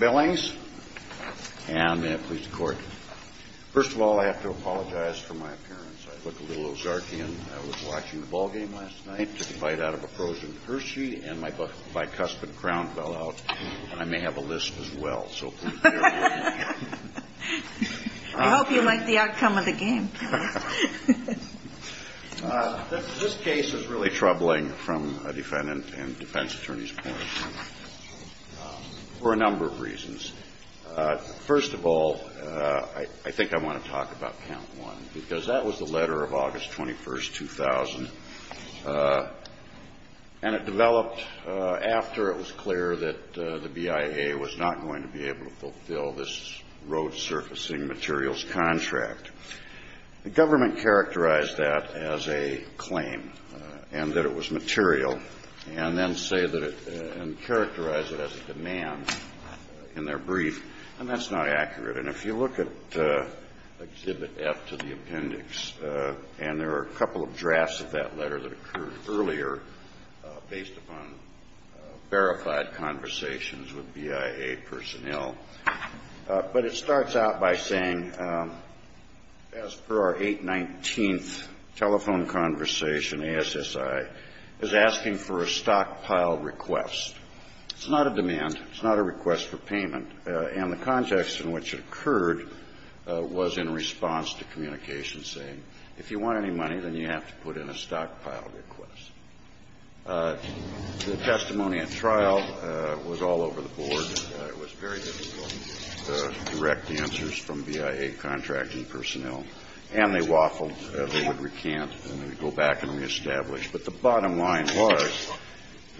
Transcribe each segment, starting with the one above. Billings, and may it please the Court. First of all, I have to apologize for my appearance. I look a little Ozarkian. I was watching the ballgame last night, took a bite out of a frozen Percy, and my bicuspid crown fell out. I may have a list as well, so please bear with me. I hope you like the outcome of the game. This case is really troubling from a defendant and defense attorney's point of view for a number of reasons. First of all, I think I want to talk about count one, because that was the letter of August 21st, 2000. And it developed after it was clear that the BIA was not going to be able to fulfill this road surfacing materials contract. The government characterized that as a claim and that it was material, and then say that it – and characterize it as a demand in their brief, and that's not accurate. And if you look at Exhibit F to the appendix, and there are a couple of drafts of that letter that occurred earlier based upon verified conversations with BIA personnel. But it starts out by saying, as per our 819th telephone conversation, ASSI, is asking for a stockpile request. It's not a demand. It's not a request for payment. And the context in which it occurred was in response to communications saying, if you want any money, then you have to put in a stockpile request. The testimony at trial was all over the board. It was very difficult to direct the answers from BIA contracting personnel. And they waffled. They would recant and then go back and reestablish. But the bottom line was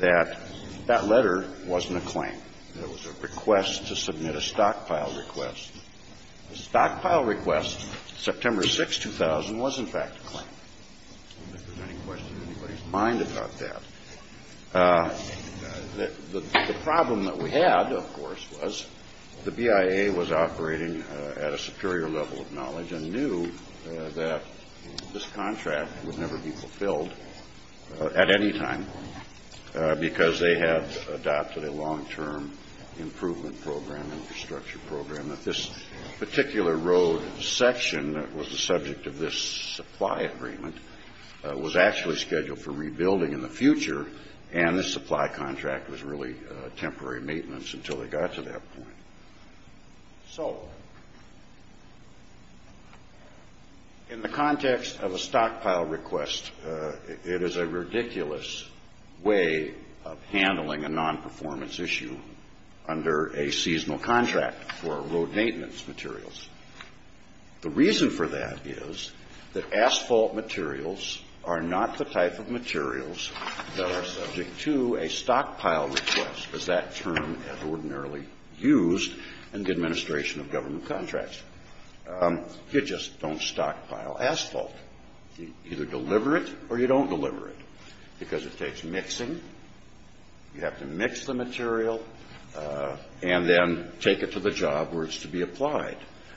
that that letter wasn't a claim. It was a request to submit a stockpile request. The stockpile request, September 6, 2000, was, in fact, a claim. I don't think there's any question in anybody's mind about that. The problem that we had, of course, was the BIA was operating at a superior level of knowledge and knew that this contract would never be fulfilled at any time because they had adopted a long-term improvement program, infrastructure program, that this particular road section that was the subject of this supply agreement was actually scheduled for rebuilding in the future, and the supply contract was really temporary maintenance until they got to that point. So in the context of a stockpile request, it is a ridiculous way of handling a non-performance issue under a seasonal contract for road maintenance materials. The reason for that is that asphalt materials are not the type of materials that are subject to a stockpile request, as that term is ordinarily used in the administration of government contracts. You just don't stockpile asphalt. You either deliver it or you don't deliver it because it takes mixing. You have to mix the material and then take it to the job where it's to be applied.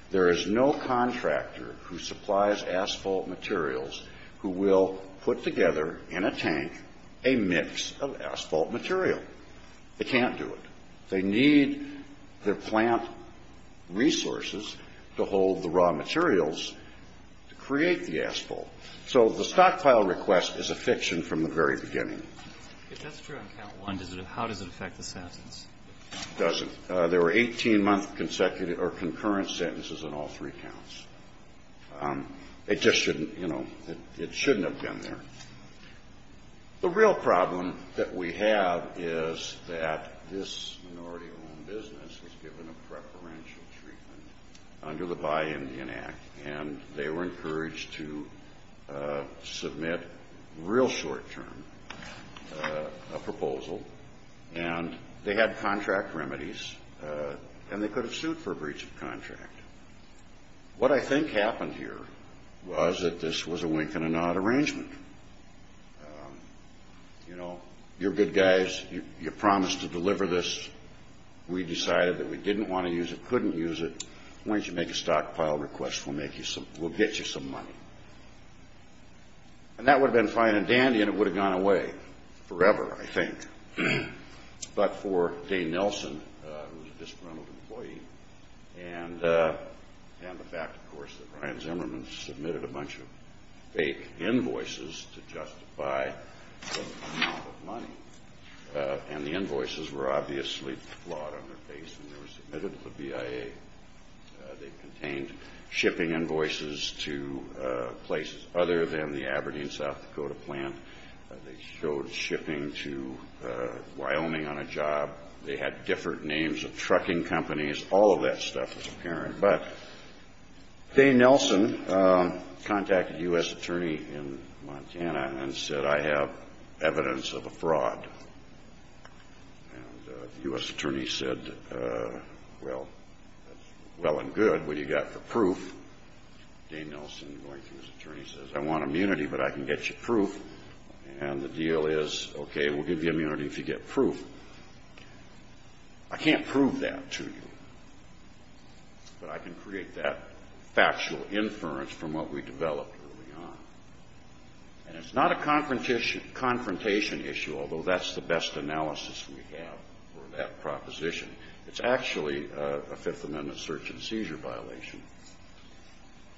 There is no contractor who supplies asphalt materials who will put together in a tank a mix of asphalt material. They can't do it. They need their plant resources to hold the raw materials to create the asphalt. So the stockpile request is a fiction from the very beginning. If that's true on count one, how does it affect the substance? It doesn't. There were 18-month consecutive or concurrent sentences on all three counts. It just shouldn't, you know, it shouldn't have been there. The real problem that we have is that this minority-owned business was given a preferential treatment under the Buy Indian Act, and they were encouraged to submit real short-term a proposal. And they had contract remedies, and they could have sued for a breach of contract. What I think happened here was that this was a wink and a nod arrangement. You know, you're good guys. You promised to deliver this. We decided that we didn't want to use it, couldn't use it. Why don't you make a stockpile request? We'll get you some money. And that would have been fine and dandy, and it would have gone away forever, I think. But for Dane Nelson, who was a disgruntled employee, and the fact, of course, that Ryan Zimmerman submitted a bunch of fake invoices to justify the amount of money, and the invoices were obviously flawed on their face when they were submitted to the BIA. They contained shipping invoices to places other than the Aberdeen, South Dakota plant. They showed shipping to Wyoming on a job. They had different names of trucking companies. All of that stuff was apparent. But Dane Nelson contacted a U.S. attorney in Montana and said, I have evidence of a fraud. And the U.S. attorney said, well, that's well and good. What do you got for proof? Dane Nelson, going through his attorney, says, I want immunity, but I can get you proof. And the deal is, okay, we'll give you immunity if you get proof. I can't prove that to you, but I can create that factual inference from what we developed early on. And it's not a confrontation issue, although that's the best analysis we have for that proposition. It's actually a Fifth Amendment search and seizure violation.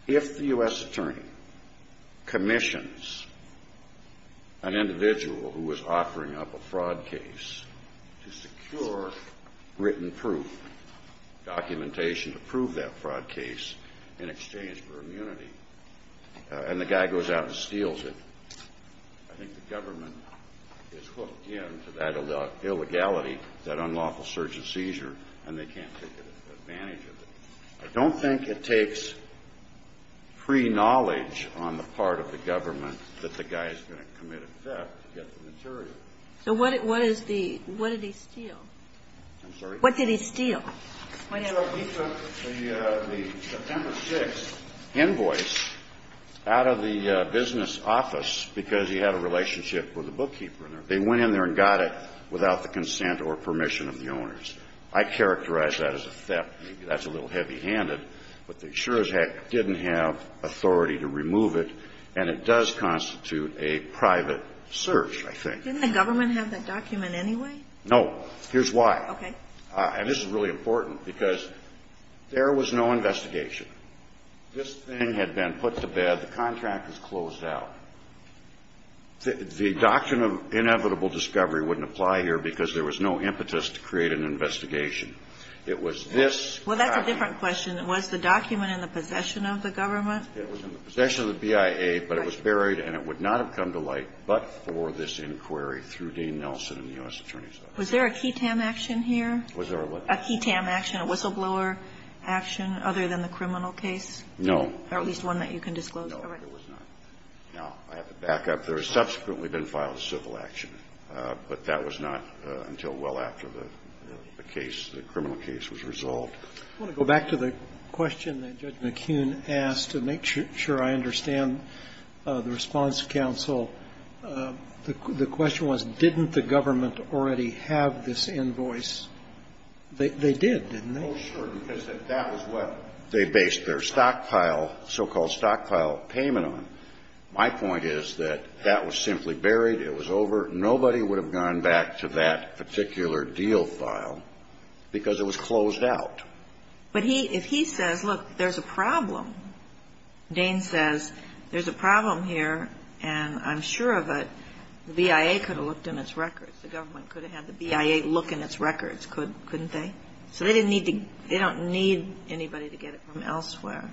If the U.S. attorney commissions an individual who is offering up a fraud case to secure written proof, documentation to prove that fraud case in exchange for immunity, and the guy goes out and steals it, I think the government is hooked into that illegality, that unlawful search and seizure, and they can't take advantage of it. I don't think it takes pre-knowledge on the part of the government that the guy is going to commit a theft to get the material. So what did he steal? I'm sorry? What did he steal? He took the September 6th invoice out of the business office because he had a relationship with a bookkeeper. They went in there and got it without the consent or permission of the owners. I characterize that as a theft. That's a little heavy-handed. But the insurers didn't have authority to remove it, and it does constitute a private search, I think. Didn't the government have that document anyway? Here's why. Okay. And this is really important because there was no investigation. This thing had been put to bed. The contract was closed out. The doctrine of inevitable discovery wouldn't apply here because there was no impetus to create an investigation. It was this copy. Well, that's a different question. Was the document in the possession of the government? It was in the possession of the BIA, but it was buried, and it would not have come to light but for this inquiry through Dean Nelson and the U.S. Attorney's Office. Was there a ketam action here? Was there a what? A ketam action, a whistleblower action, other than the criminal case? No. Or at least one that you can disclose. No, there was not. No. I have to back up. There had subsequently been filed a civil action, but that was not until well after the case, the criminal case was resolved. I want to go back to the question that Judge McKeown asked to make sure I understand the response to counsel. The question was, didn't the government already have this invoice? They did, didn't they? Oh, sure, because that was what they based their stockpile, so-called stockpile payment on. My point is that that was simply buried. It was over. Nobody would have gone back to that particular deal file because it was closed out. But if he says, look, there's a problem, Dane says, there's a problem here, and I'm sure of it, the BIA could have looked in its records. The government could have had the BIA look in its records, couldn't they? So they didn't need to – they don't need anybody to get it from elsewhere.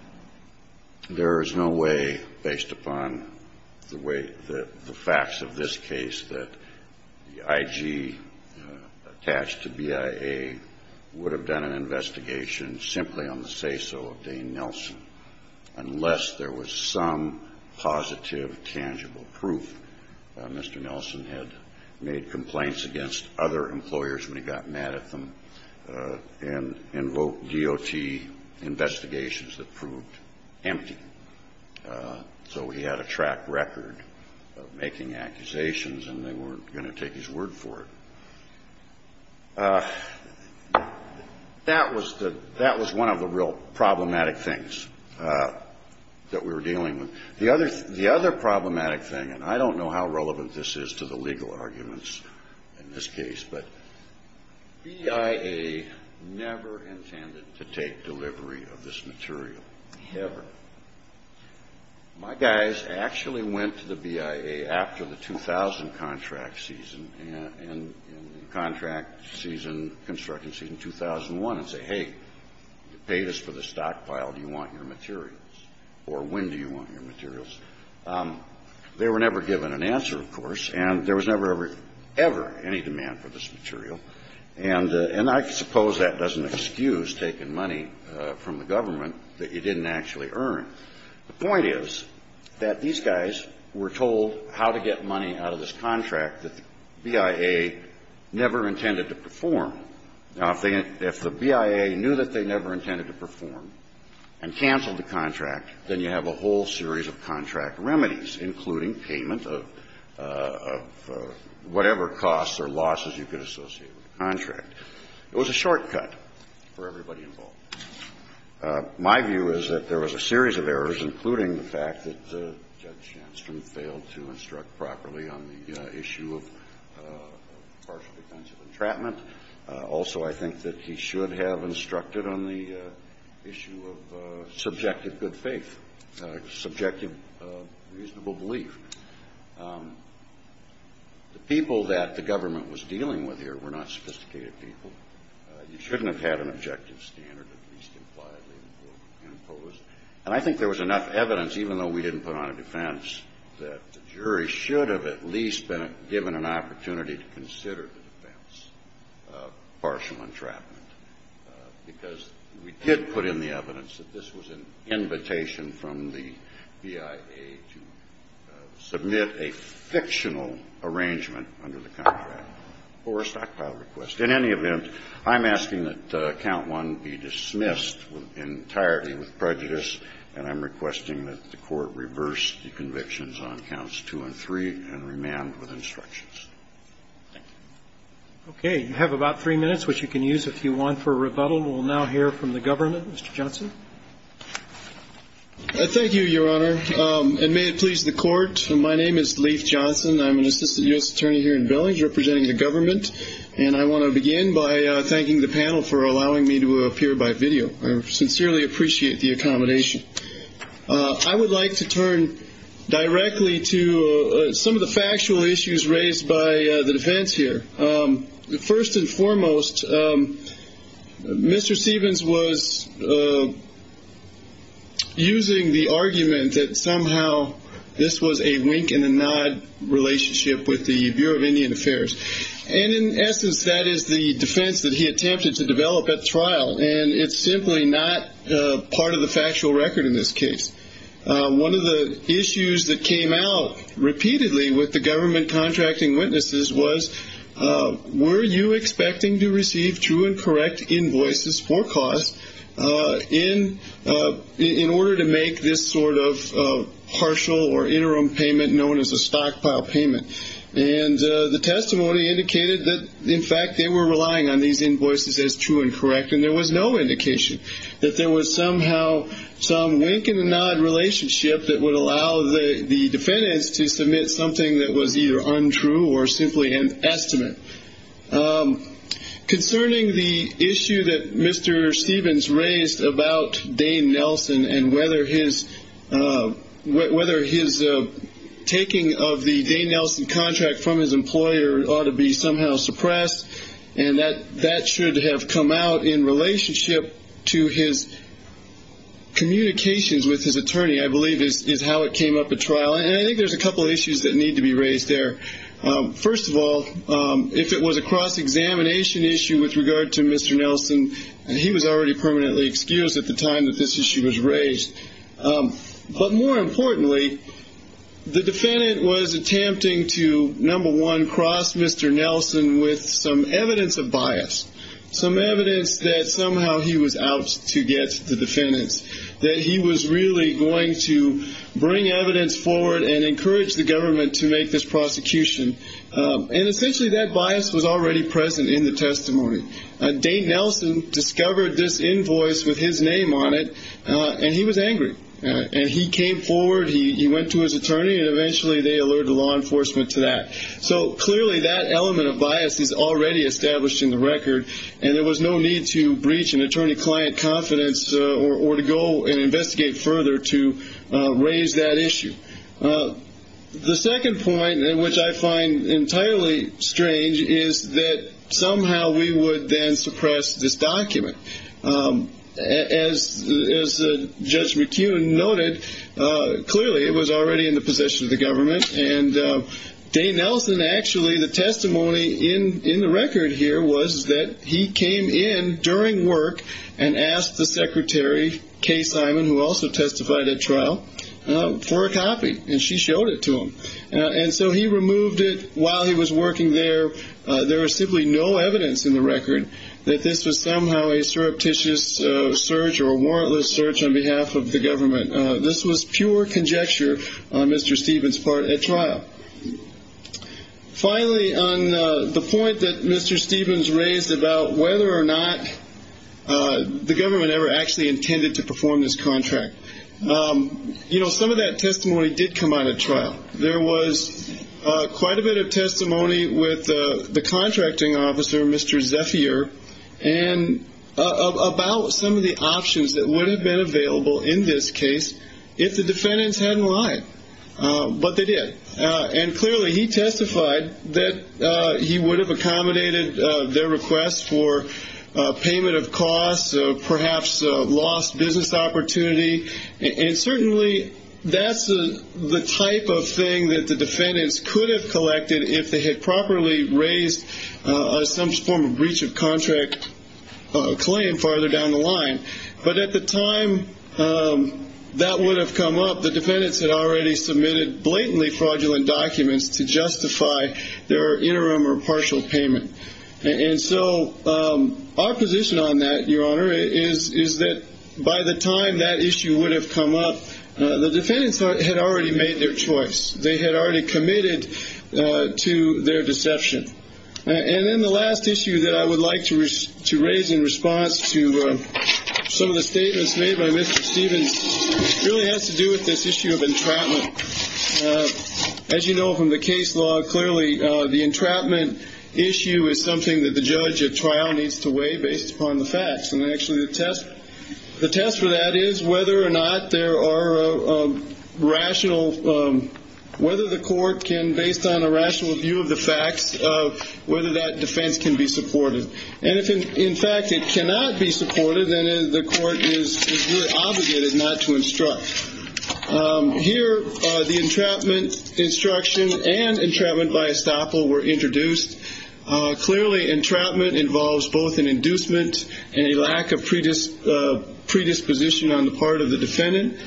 There is no way, based upon the way – the facts of this case, that the IG attached to BIA would have done an investigation simply on the say-so of Dane Nelson unless there was some positive, tangible proof that Mr. Nelson had made complaints against other employers when he got mad at them and invoked DOT investigations that proved empty. So he had a track record of making accusations, and they weren't going to take his word for it. That was the – that was one of the real problematic things that we were dealing with. The other – the other problematic thing, and I don't know how relevant this is to the legal arguments in this case, but BIA never intended to take delivery of this material, ever. My guys actually went to the BIA after the 2000 contract season, and in the contract season, construction season 2001, and say, hey, you paid us for the stockpile. Do you want your materials? Or when do you want your materials? They were never given an answer, of course, and there was never ever, ever any demand for this material. And I suppose that doesn't excuse taking money from the government that you didn't actually earn. The point is that these guys were told how to get money out of this contract that BIA never intended to perform. Now, if they – if the BIA knew that they never intended to perform and canceled the contract, then you have a whole series of contract remedies, including payment of whatever costs or losses you could associate with the contract. It was a shortcut for everybody involved. My view is that there was a reasonable standard of partial defense of entrapment. Also, I think that he should have instructed on the issue of subjective good faith, subjective reasonable belief. The people that the government was dealing with here were not sophisticated people. You shouldn't have had an objective standard at least impliedly imposed. And I think there was enough evidence, even though we didn't put on a defense, that the jury should have at least been given an opportunity to consider the defense of partial entrapment, because we did put in the evidence that this was an invitation from the BIA to submit a fictional arrangement under the contract or a stockpile arrangement. So I think we're going to have a fair amount of time to discuss the rest of the matter. Thank you. The Court will now return to the hearing for questions. Thank you. Thank you, Mr. Johnson. Thank you, Your Honor. And may it please the Court, my name is Leif Johnson. I'm an Assistant U.S. Attorney here in Billings, representing the government. And I'm going to be speaking and I want to begin by thanking the panel for allowing me to appear by video. I sincerely appreciate the accommodation. I would like to turn directly to some of the factual issues raised by the defense here. First and foremost, Mr. Stevens was using the argument that somehow this was a wink and a nod relationship with the Bureau of Indian Affairs. And in essence, that is the defense that he attempted to develop at trial. And it's simply not part of the factual record in this case. One of the issues that came out repeatedly with the government contracting witnesses was, were you expecting to receive true and correct invoices for cause in order to make this sort of partial or interim payment known as a stockpile payment? And the testimony indicated that, in fact, they were relying on these invoices as true and correct and there was no indication that there was somehow some wink and a nod relationship that would allow the defendants to submit something that was either untrue or simply an estimate. Concerning the issue that Mr. Stevens raised about Dane Nelson and whether his taking of the Dane Nelson contract from his employer ought to be somehow suppressed, and that should have come out in relationship to his communications with his attorney, I believe, is how it came up at trial. And I think there's a couple of issues that need to be raised there. First of all, if it was a cross-examination issue with regard to Mr. Nelson, he was already permanently excused at the time that this issue was raised. But more importantly, the defendant was attempting to, number one, cross Mr. Nelson with some evidence of bias, some evidence that somehow he was out to get the defendants, that he was really going to bring evidence forward and encourage the government to make this prosecution. And essentially that bias was already present in the testimony. Dane Nelson discovered this invoice with his name on it, and he was angry. And he came forward. He went to his attorney, and eventually they alerted law enforcement to that. So clearly that element of bias is already established in the record, and there was no need to breach an attorney-client confidence or to go and investigate further to raise that issue. The second point, which I find entirely strange, is that somehow we would then suppress this document. As Judge McCune noted, clearly it was already in the possession of the government. And Dane Nelson actually, the testimony in the record here was that he came in during work and asked the secretary, Kay Simon, who also testified at trial, for a copy, and she showed it to him. And so he removed it while he was working there. There was simply no evidence in the record that this was somehow a surreptitious search or a warrantless search on behalf of the government. This was pure conjecture on Mr. Stevens' part at trial. Finally, on the point that Mr. Stevens raised about whether or not the government ever actually intended to perform this contract, some of that testimony did come out at trial. There was quite a bit of testimony with the contracting officer, Mr. Zephier, about some of the options that would have been available in this case if the defendants hadn't lied. But they did. And clearly he testified that he would have accommodated their request for payment of costs or perhaps lost business opportunity. And certainly that's the type of thing that the defendants could have collected if they had properly raised some form of breach of contract claim farther down the line. But at the time that would have come up, the defendants had already submitted blatantly fraudulent documents to justify their interim or partial payment. And so our position on that, Your Honor, is that by the time that issue would have come up, the defendants had already made their choice. They had already committed to their deception. And then the last issue that I would like to raise in response to some of the statements made by Mr. Stevens really has to do with this issue of entrapment. As you know from the case law, clearly the entrapment issue is something that the judge at trial needs to weigh based upon the facts. And actually the test for that is whether or not there are rational, whether the court can, based on a rational view of the facts, whether that defense can be supported. And if, in fact, it cannot be supported, then the court is really obligated not to instruct. Here the entrapment instruction and entrapment by estoppel were introduced. Clearly entrapment involves both an inducement and a lack of predisposition on the part of the defendant.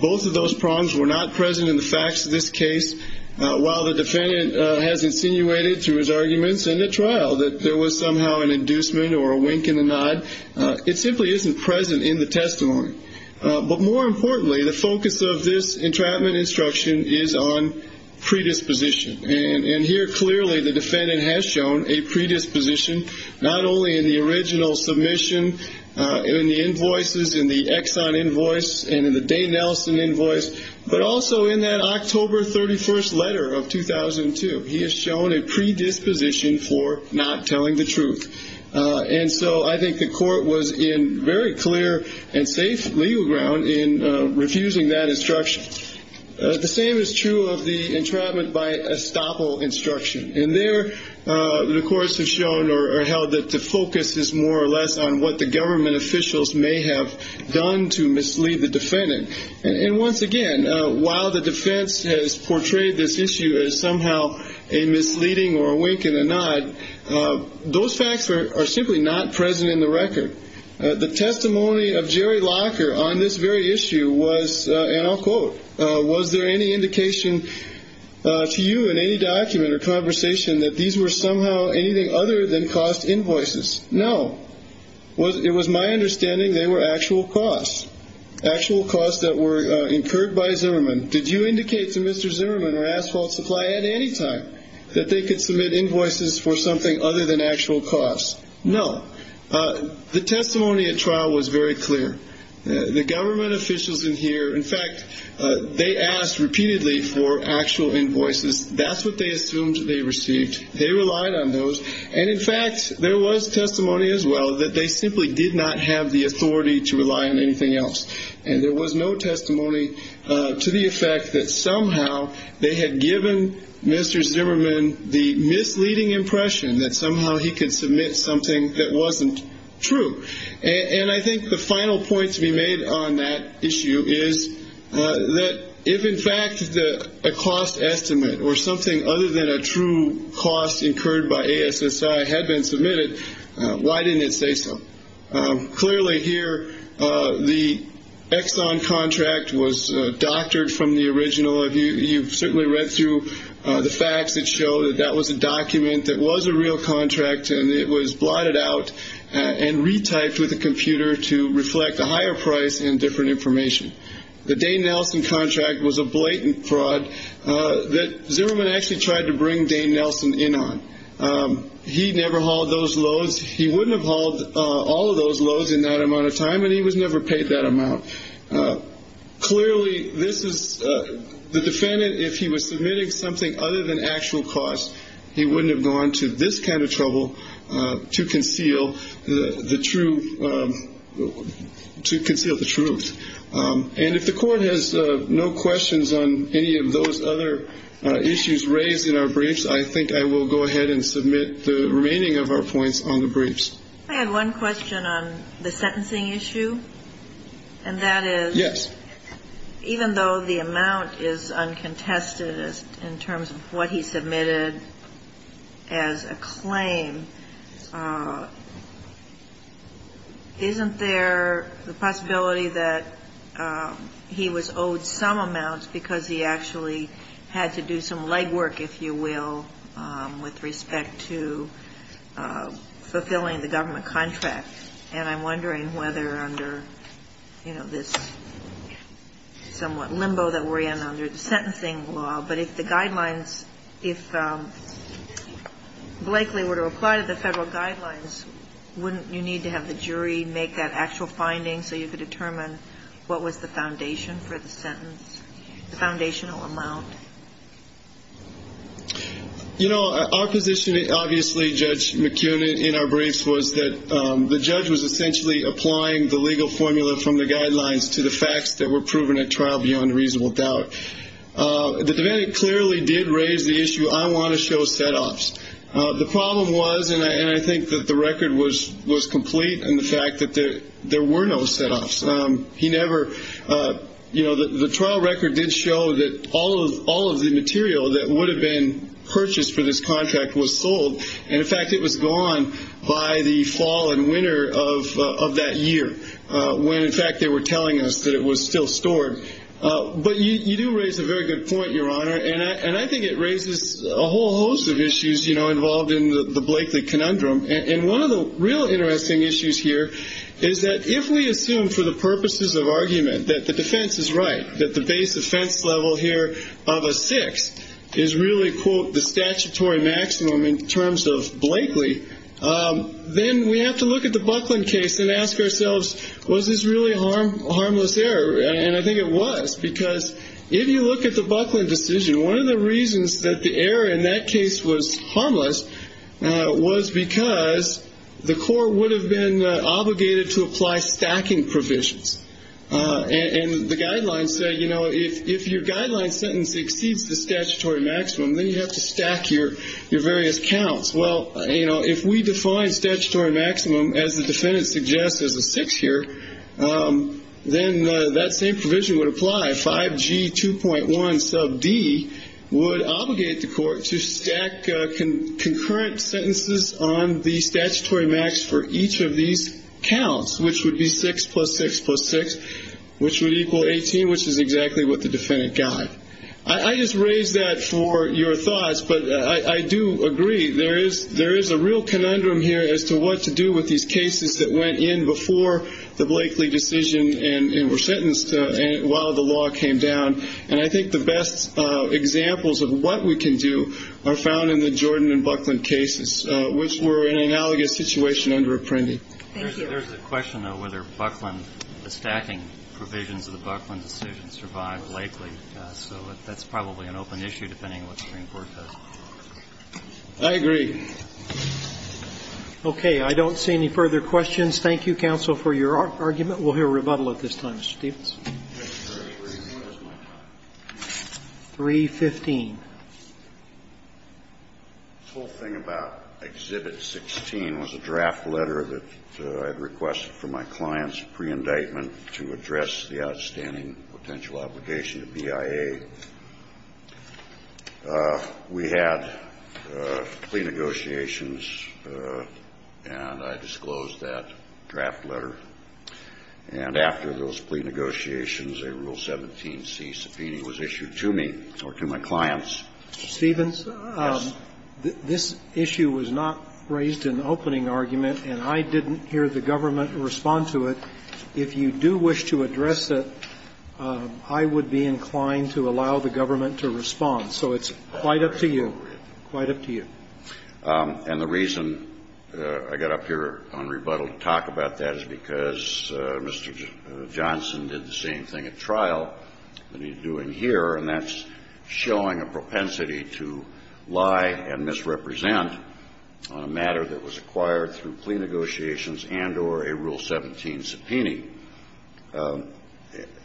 Both of those problems were not present in the facts of this case. While the defendant has insinuated through his arguments in the trial that there was somehow an inducement or a wink and a nod, it simply isn't present in the testimony. But more importantly, the focus of this entrapment instruction is on predisposition. And here clearly the defendant has shown a predisposition not only in the original submission, in the invoices, in the Exxon invoice, and in the Day-Nelson invoice, but also in that October 31st letter of 2002. He has shown a predisposition for not telling the truth. And so I think the court was in very clear and safe legal ground in refusing that instruction. The same is true of the entrapment by estoppel instruction. And there the courts have shown or held that the focus is more or less on what the government officials may have done to mislead the defendant. And once again, while the defense has portrayed this issue as somehow a misleading or a wink and a nod, those facts are simply not present in the record. The testimony of Jerry Locker on this very issue was, and I'll quote, was there any indication to you in any document or conversation that these were somehow anything other than cost invoices? No. It was my understanding they were actual costs, actual costs that were incurred by Zimmerman. Did you indicate to Mr. Zimmerman or Asphalt Supply at any time that they could submit invoices for something other than actual costs? No. The testimony at trial was very clear. The government officials in here, in fact, they asked repeatedly for actual invoices. That's what they assumed they received. They relied on those. And, in fact, there was testimony as well that they simply did not have the authority to rely on anything else. And there was no testimony to the effect that somehow they had given Mr. Zimmerman the misleading impression that somehow he could submit something that wasn't true. And I think the final point to be made on that issue is that if, in fact, a cost estimate or something other than a true cost incurred by ASSI had been submitted, why didn't it say so? Clearly here, the Exxon contract was doctored from the original. You've certainly read through the facts that show that that was a document that was a real contract, and it was blotted out and retyped with a computer to reflect a higher price and different information. The Dane Nelson contract was a blatant fraud that Zimmerman actually tried to bring Dane Nelson in on. He never hauled those loads. He wouldn't have hauled all of those loads in that amount of time, and he was never paid that amount. Clearly, this is the defendant, if he was submitting something other than actual cost, he wouldn't have gone to this kind of trouble to conceal the truth. And if the Court has no questions on any of those other issues raised in our briefs, I think I will go ahead and submit the remaining of our points on the briefs. I have one question on the sentencing issue, and that is, even though the amount is uncontested in terms of what he submitted as a claim, isn't there the possibility that he was owed some amounts because he actually had to do some legwork, if you will, with respect to fulfilling the government contract? And I'm wondering whether under, you know, this somewhat limbo that we're in under the sentencing law, but if the guidelines, if Blakely were to apply to the federal guidelines, wouldn't you need to have the jury make that actual finding so you could determine what was the foundation for the sentence, the foundational amount? You know, our position, obviously, Judge McKeown, in our briefs, was that the judge was essentially applying the legal formula from the guidelines to the facts that were proven at trial beyond reasonable doubt. The defendant clearly did raise the issue, I want to show set-offs. The problem was, and I think that the record was complete in the fact that there were no set-offs. He never, you know, the trial record did show that all of the material that would have been purchased for this contract was sold, and, in fact, it was gone by the fall and winter of that year when, in fact, they were telling us that it was still stored. But you do raise a very good point, Your Honor, and I think it raises a whole host of issues, you know, involved in the Blakely conundrum, and one of the real interesting issues here is that if we assume for the purposes of argument that the defense is right, that the base offense level here of a six is really, quote, the statutory maximum in terms of Blakely, then we have to look at the Buckland case and ask ourselves, was this really a harmless error? And I think it was because if you look at the Buckland decision, one of the reasons that the error in that case was harmless was because the court would have been obligated to apply stacking provisions, and the guidelines say, you know, if your guideline sentence exceeds the statutory maximum, then you have to stack your various counts. Well, you know, if we define statutory maximum, as the defendant suggests, as a six here, then that same provision would apply. 5G2.1 sub D would obligate the court to stack concurrent sentences on the statutory max for each of these counts, which would be six plus six plus six, which would equal 18, which is exactly what the defendant got. I just raised that for your thoughts, but I do agree. There is a real conundrum here as to what to do with these cases that went in before the Blakely decision and were sentenced while the law came down. And I think the best examples of what we can do are found in the Jordan and Buckland cases, which were an analogous situation under Apprendi. There's a question, though, whether the stacking provisions of the Buckland decision survived Blakely. So that's probably an open issue, depending on what the Supreme Court does. I agree. Okay. I don't see any further questions. Thank you, counsel, for your argument. We'll hear a rebuttal at this time, Mr. Stephens. 315. The whole thing about Exhibit 16 was a draft letter that I had requested from my clients preindictment to address the outstanding potential obligation to BIA. We had plea negotiations, and I disclosed that draft letter. And after those plea negotiations, a Rule 17c subpoena was issued to me or to my clients. Mr. Stephens? Yes. This issue was not raised in the opening argument, and I didn't hear the government respond to it. If you do wish to address it, I would be inclined to allow the government to respond. So it's quite up to you. Quite up to you. And the reason I got up here on rebuttal to talk about that is because Mr. Johnson did the same thing at trial that he's doing here, and that's showing a propensity to lie and misrepresent on a matter that was acquired through plea negotiations and or a Rule 17 subpoena.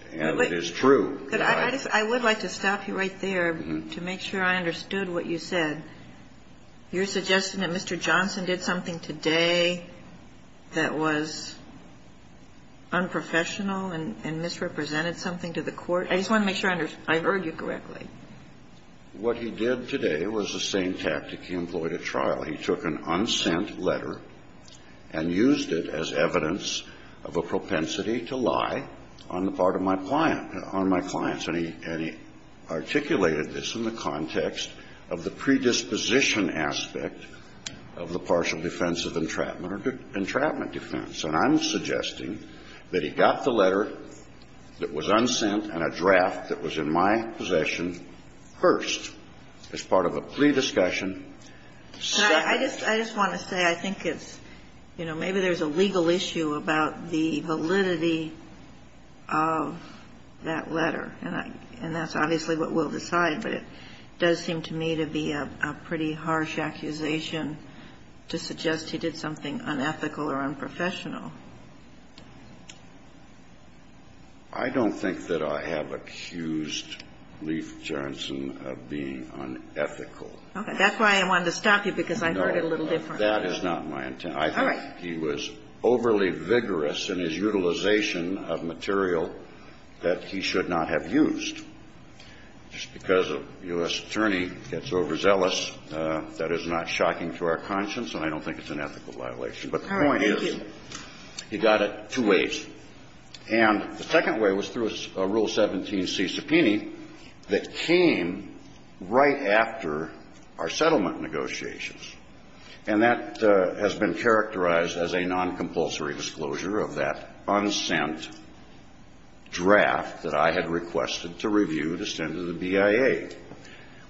And it is true. But I would like to stop you right there to make sure I understood what you said. You're suggesting that Mr. Johnson did something today that was unprofessional and misrepresented something to the court? I just want to make sure I heard you correctly. What he did today was the same tactic he employed at trial. He took an unsent letter and used it as evidence of a propensity to lie on the part of my client, on my clients. And he articulated this in the context of the predisposition aspect of the partial defense of entrapment or entrapment defense. And I'm suggesting that he got the letter that was unsent and a draft that was in my possession first as part of a plea discussion. I just want to say I think it's, you know, maybe there's a legal issue about the validity of that letter, and that's obviously what we'll decide. But it does seem to me to be a pretty harsh accusation to suggest he did something unethical or unprofessional. I don't think that I have accused Lief Jernson of being unethical. Okay. That's why I wanted to stop you, because I heard it a little different. No. That is not my intent. All right. I think he was overly vigorous in his utilization of material that he should not have used. Just because a U.S. attorney gets overzealous, that is not shocking to our conscience, and I don't think it's an ethical violation. He got it two ways. And the second way was through a Rule 17c subpoena that came right after our settlement negotiations, and that has been characterized as a noncompulsory disclosure of that unsent draft that I had requested to review to send to the BIA.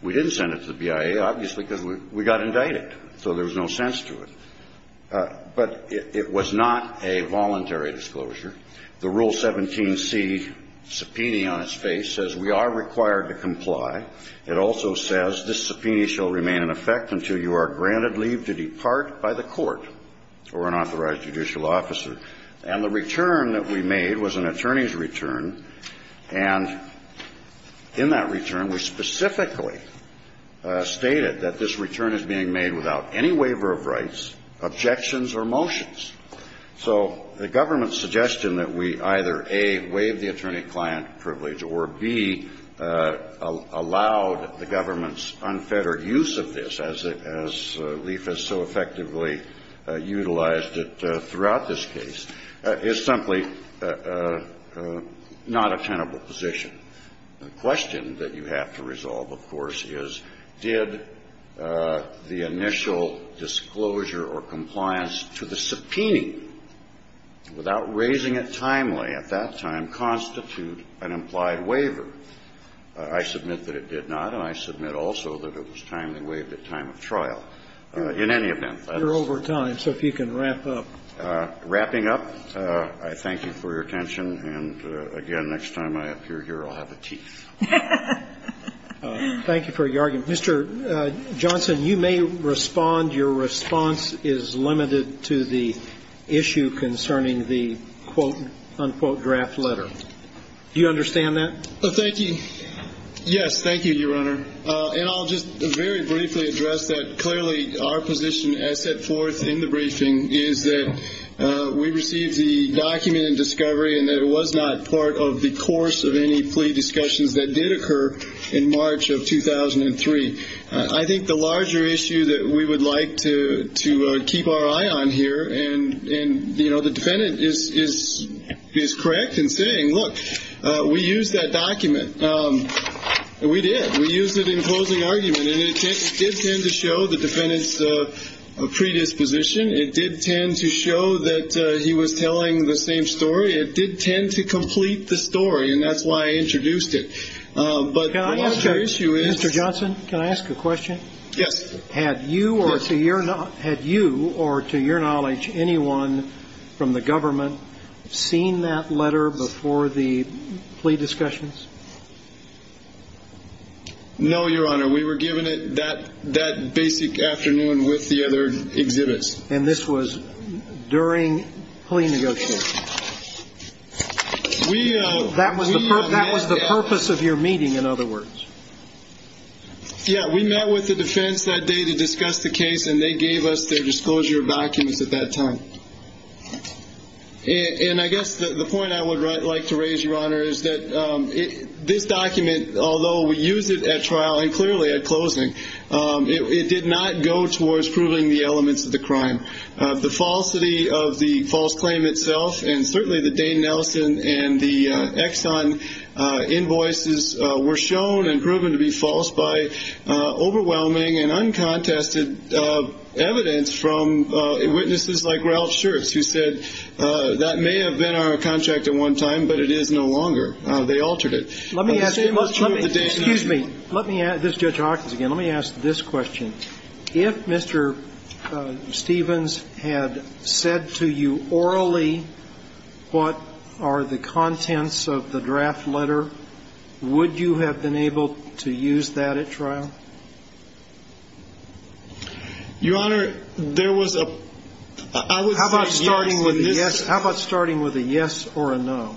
We didn't send it to the BIA, obviously, because we got indicted, so there was no sense to it. But it was not a voluntary disclosure. The Rule 17c subpoena on its face says we are required to comply. It also says this subpoena shall remain in effect until you are granted leave to depart by the court or an authorized judicial officer. And the return that we made was an attorney's return. And in that return, we specifically stated that this return is being made without any waiver of rights, objections, or motions. So the government's suggestion that we either, A, waive the attorney-client privilege or, B, allowed the government's unfettered use of this, as Leif has so effectively utilized it throughout this case, is simply not a tenable position. The question that you have to resolve, of course, is, did the initial disclosure or compliance to the subpoena, without raising it timely at that time, constitute an implied waiver? I submit that it did not, and I submit also that it was timely waived at time of trial. In any event, that is the question. Scalia. You're over time, so if you can wrap up. Wrapping up, I thank you for your attention. And, again, next time I appear here, I'll have the teeth. Thank you for your argument. Mr. Johnson, you may respond. Your response is limited to the issue concerning the, quote, unquote, draft letter. Do you understand that? Thank you. Yes. Thank you, Your Honor. And I'll just very briefly address that. We received the document in discovery, and it was not part of the course of any plea discussions that did occur in March of 2003. I think the larger issue that we would like to keep our eye on here, and, you know, the defendant is correct in saying, look, we used that document. We did. We used it in closing argument, and it did tend to show the defendant's predisposition. It did tend to show that he was telling the same story. It did tend to complete the story, and that's why I introduced it. But the larger issue is Mr. Johnson, can I ask a question? Yes. Had you or to your knowledge anyone from the government seen that letter before the plea discussions? No, Your Honor. We were given it that basic afternoon with the other exhibits. And this was during plea negotiations. That was the purpose of your meeting, in other words. Yes. We met with the defense that day to discuss the case, and they gave us their disclosure of documents at that time. And I guess the point I would like to raise, Your Honor, is that this document, although we used it at trial, and clearly at closing, it did not go towards proving the elements of the crime. The falsity of the false claim itself and certainly the Dane Nelson and the Exxon invoices were shown and proven to be false by overwhelming and uncontested evidence from witnesses like Ralph Schertz, who said that may have been our contract at one time, but it is no longer. They altered it. Excuse me. Let me ask this, Judge Hawkins, again. Let me ask this question. If Mr. Stevens had said to you orally what are the contents of the draft letter, would you have been able to use that at trial? Your Honor, there was a – I would say yes. How about starting with a yes or a no?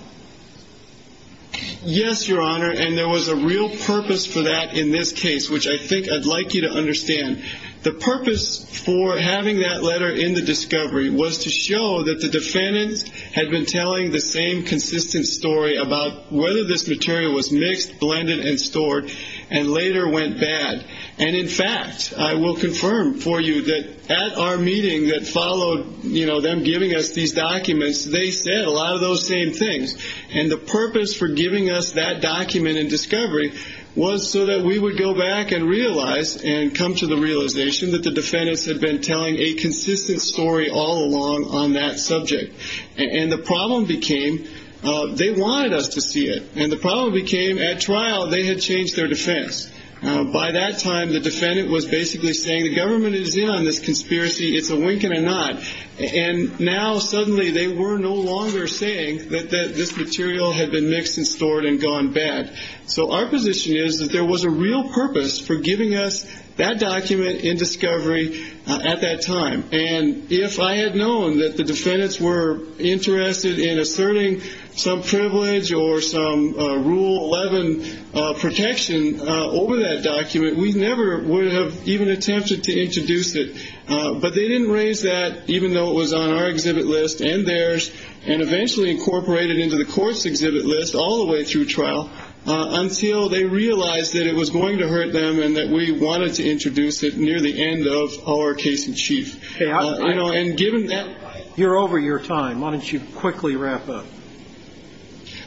Yes, Your Honor, and there was a real purpose for that in this case, which I think I'd like you to understand. The purpose for having that letter in the discovery was to show that the defendants had been telling the same consistent story about whether this material was mixed, blended, and stored and later went bad. And, in fact, I will confirm for you that at our meeting that followed, you know, them giving us these documents, they said a lot of those same things. And the purpose for giving us that document in discovery was so that we would go back and realize and come to the realization that the defendants had been telling a consistent story all along on that subject. And the problem became they wanted us to see it, and the problem became at trial they had changed their defense. By that time, the defendant was basically saying the government is in on this conspiracy. It's a wink and a nod. And now suddenly they were no longer saying that this material had been mixed and stored and gone bad. So our position is that there was a real purpose for giving us that document in discovery at that time. And if I had known that the defendants were interested in asserting some privilege or some Rule 11 protection over that document, we never would have even attempted to introduce it. But they didn't raise that, even though it was on our exhibit list and theirs, and eventually incorporated it into the Court's exhibit list all the way through trial, until they realized that it was going to hurt them and that we wanted to introduce it near the end of our case in chief. You know, and given that ---- You're over your time. Why don't you quickly wrap up?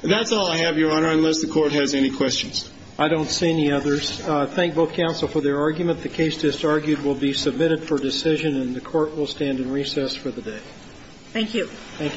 That's all I have, Your Honor, unless the Court has any questions. I don't see any others. Thank both counsel for their argument. The case, as argued, will be submitted for decision, and the Court will stand in recess for the day. Thank you. Thank you.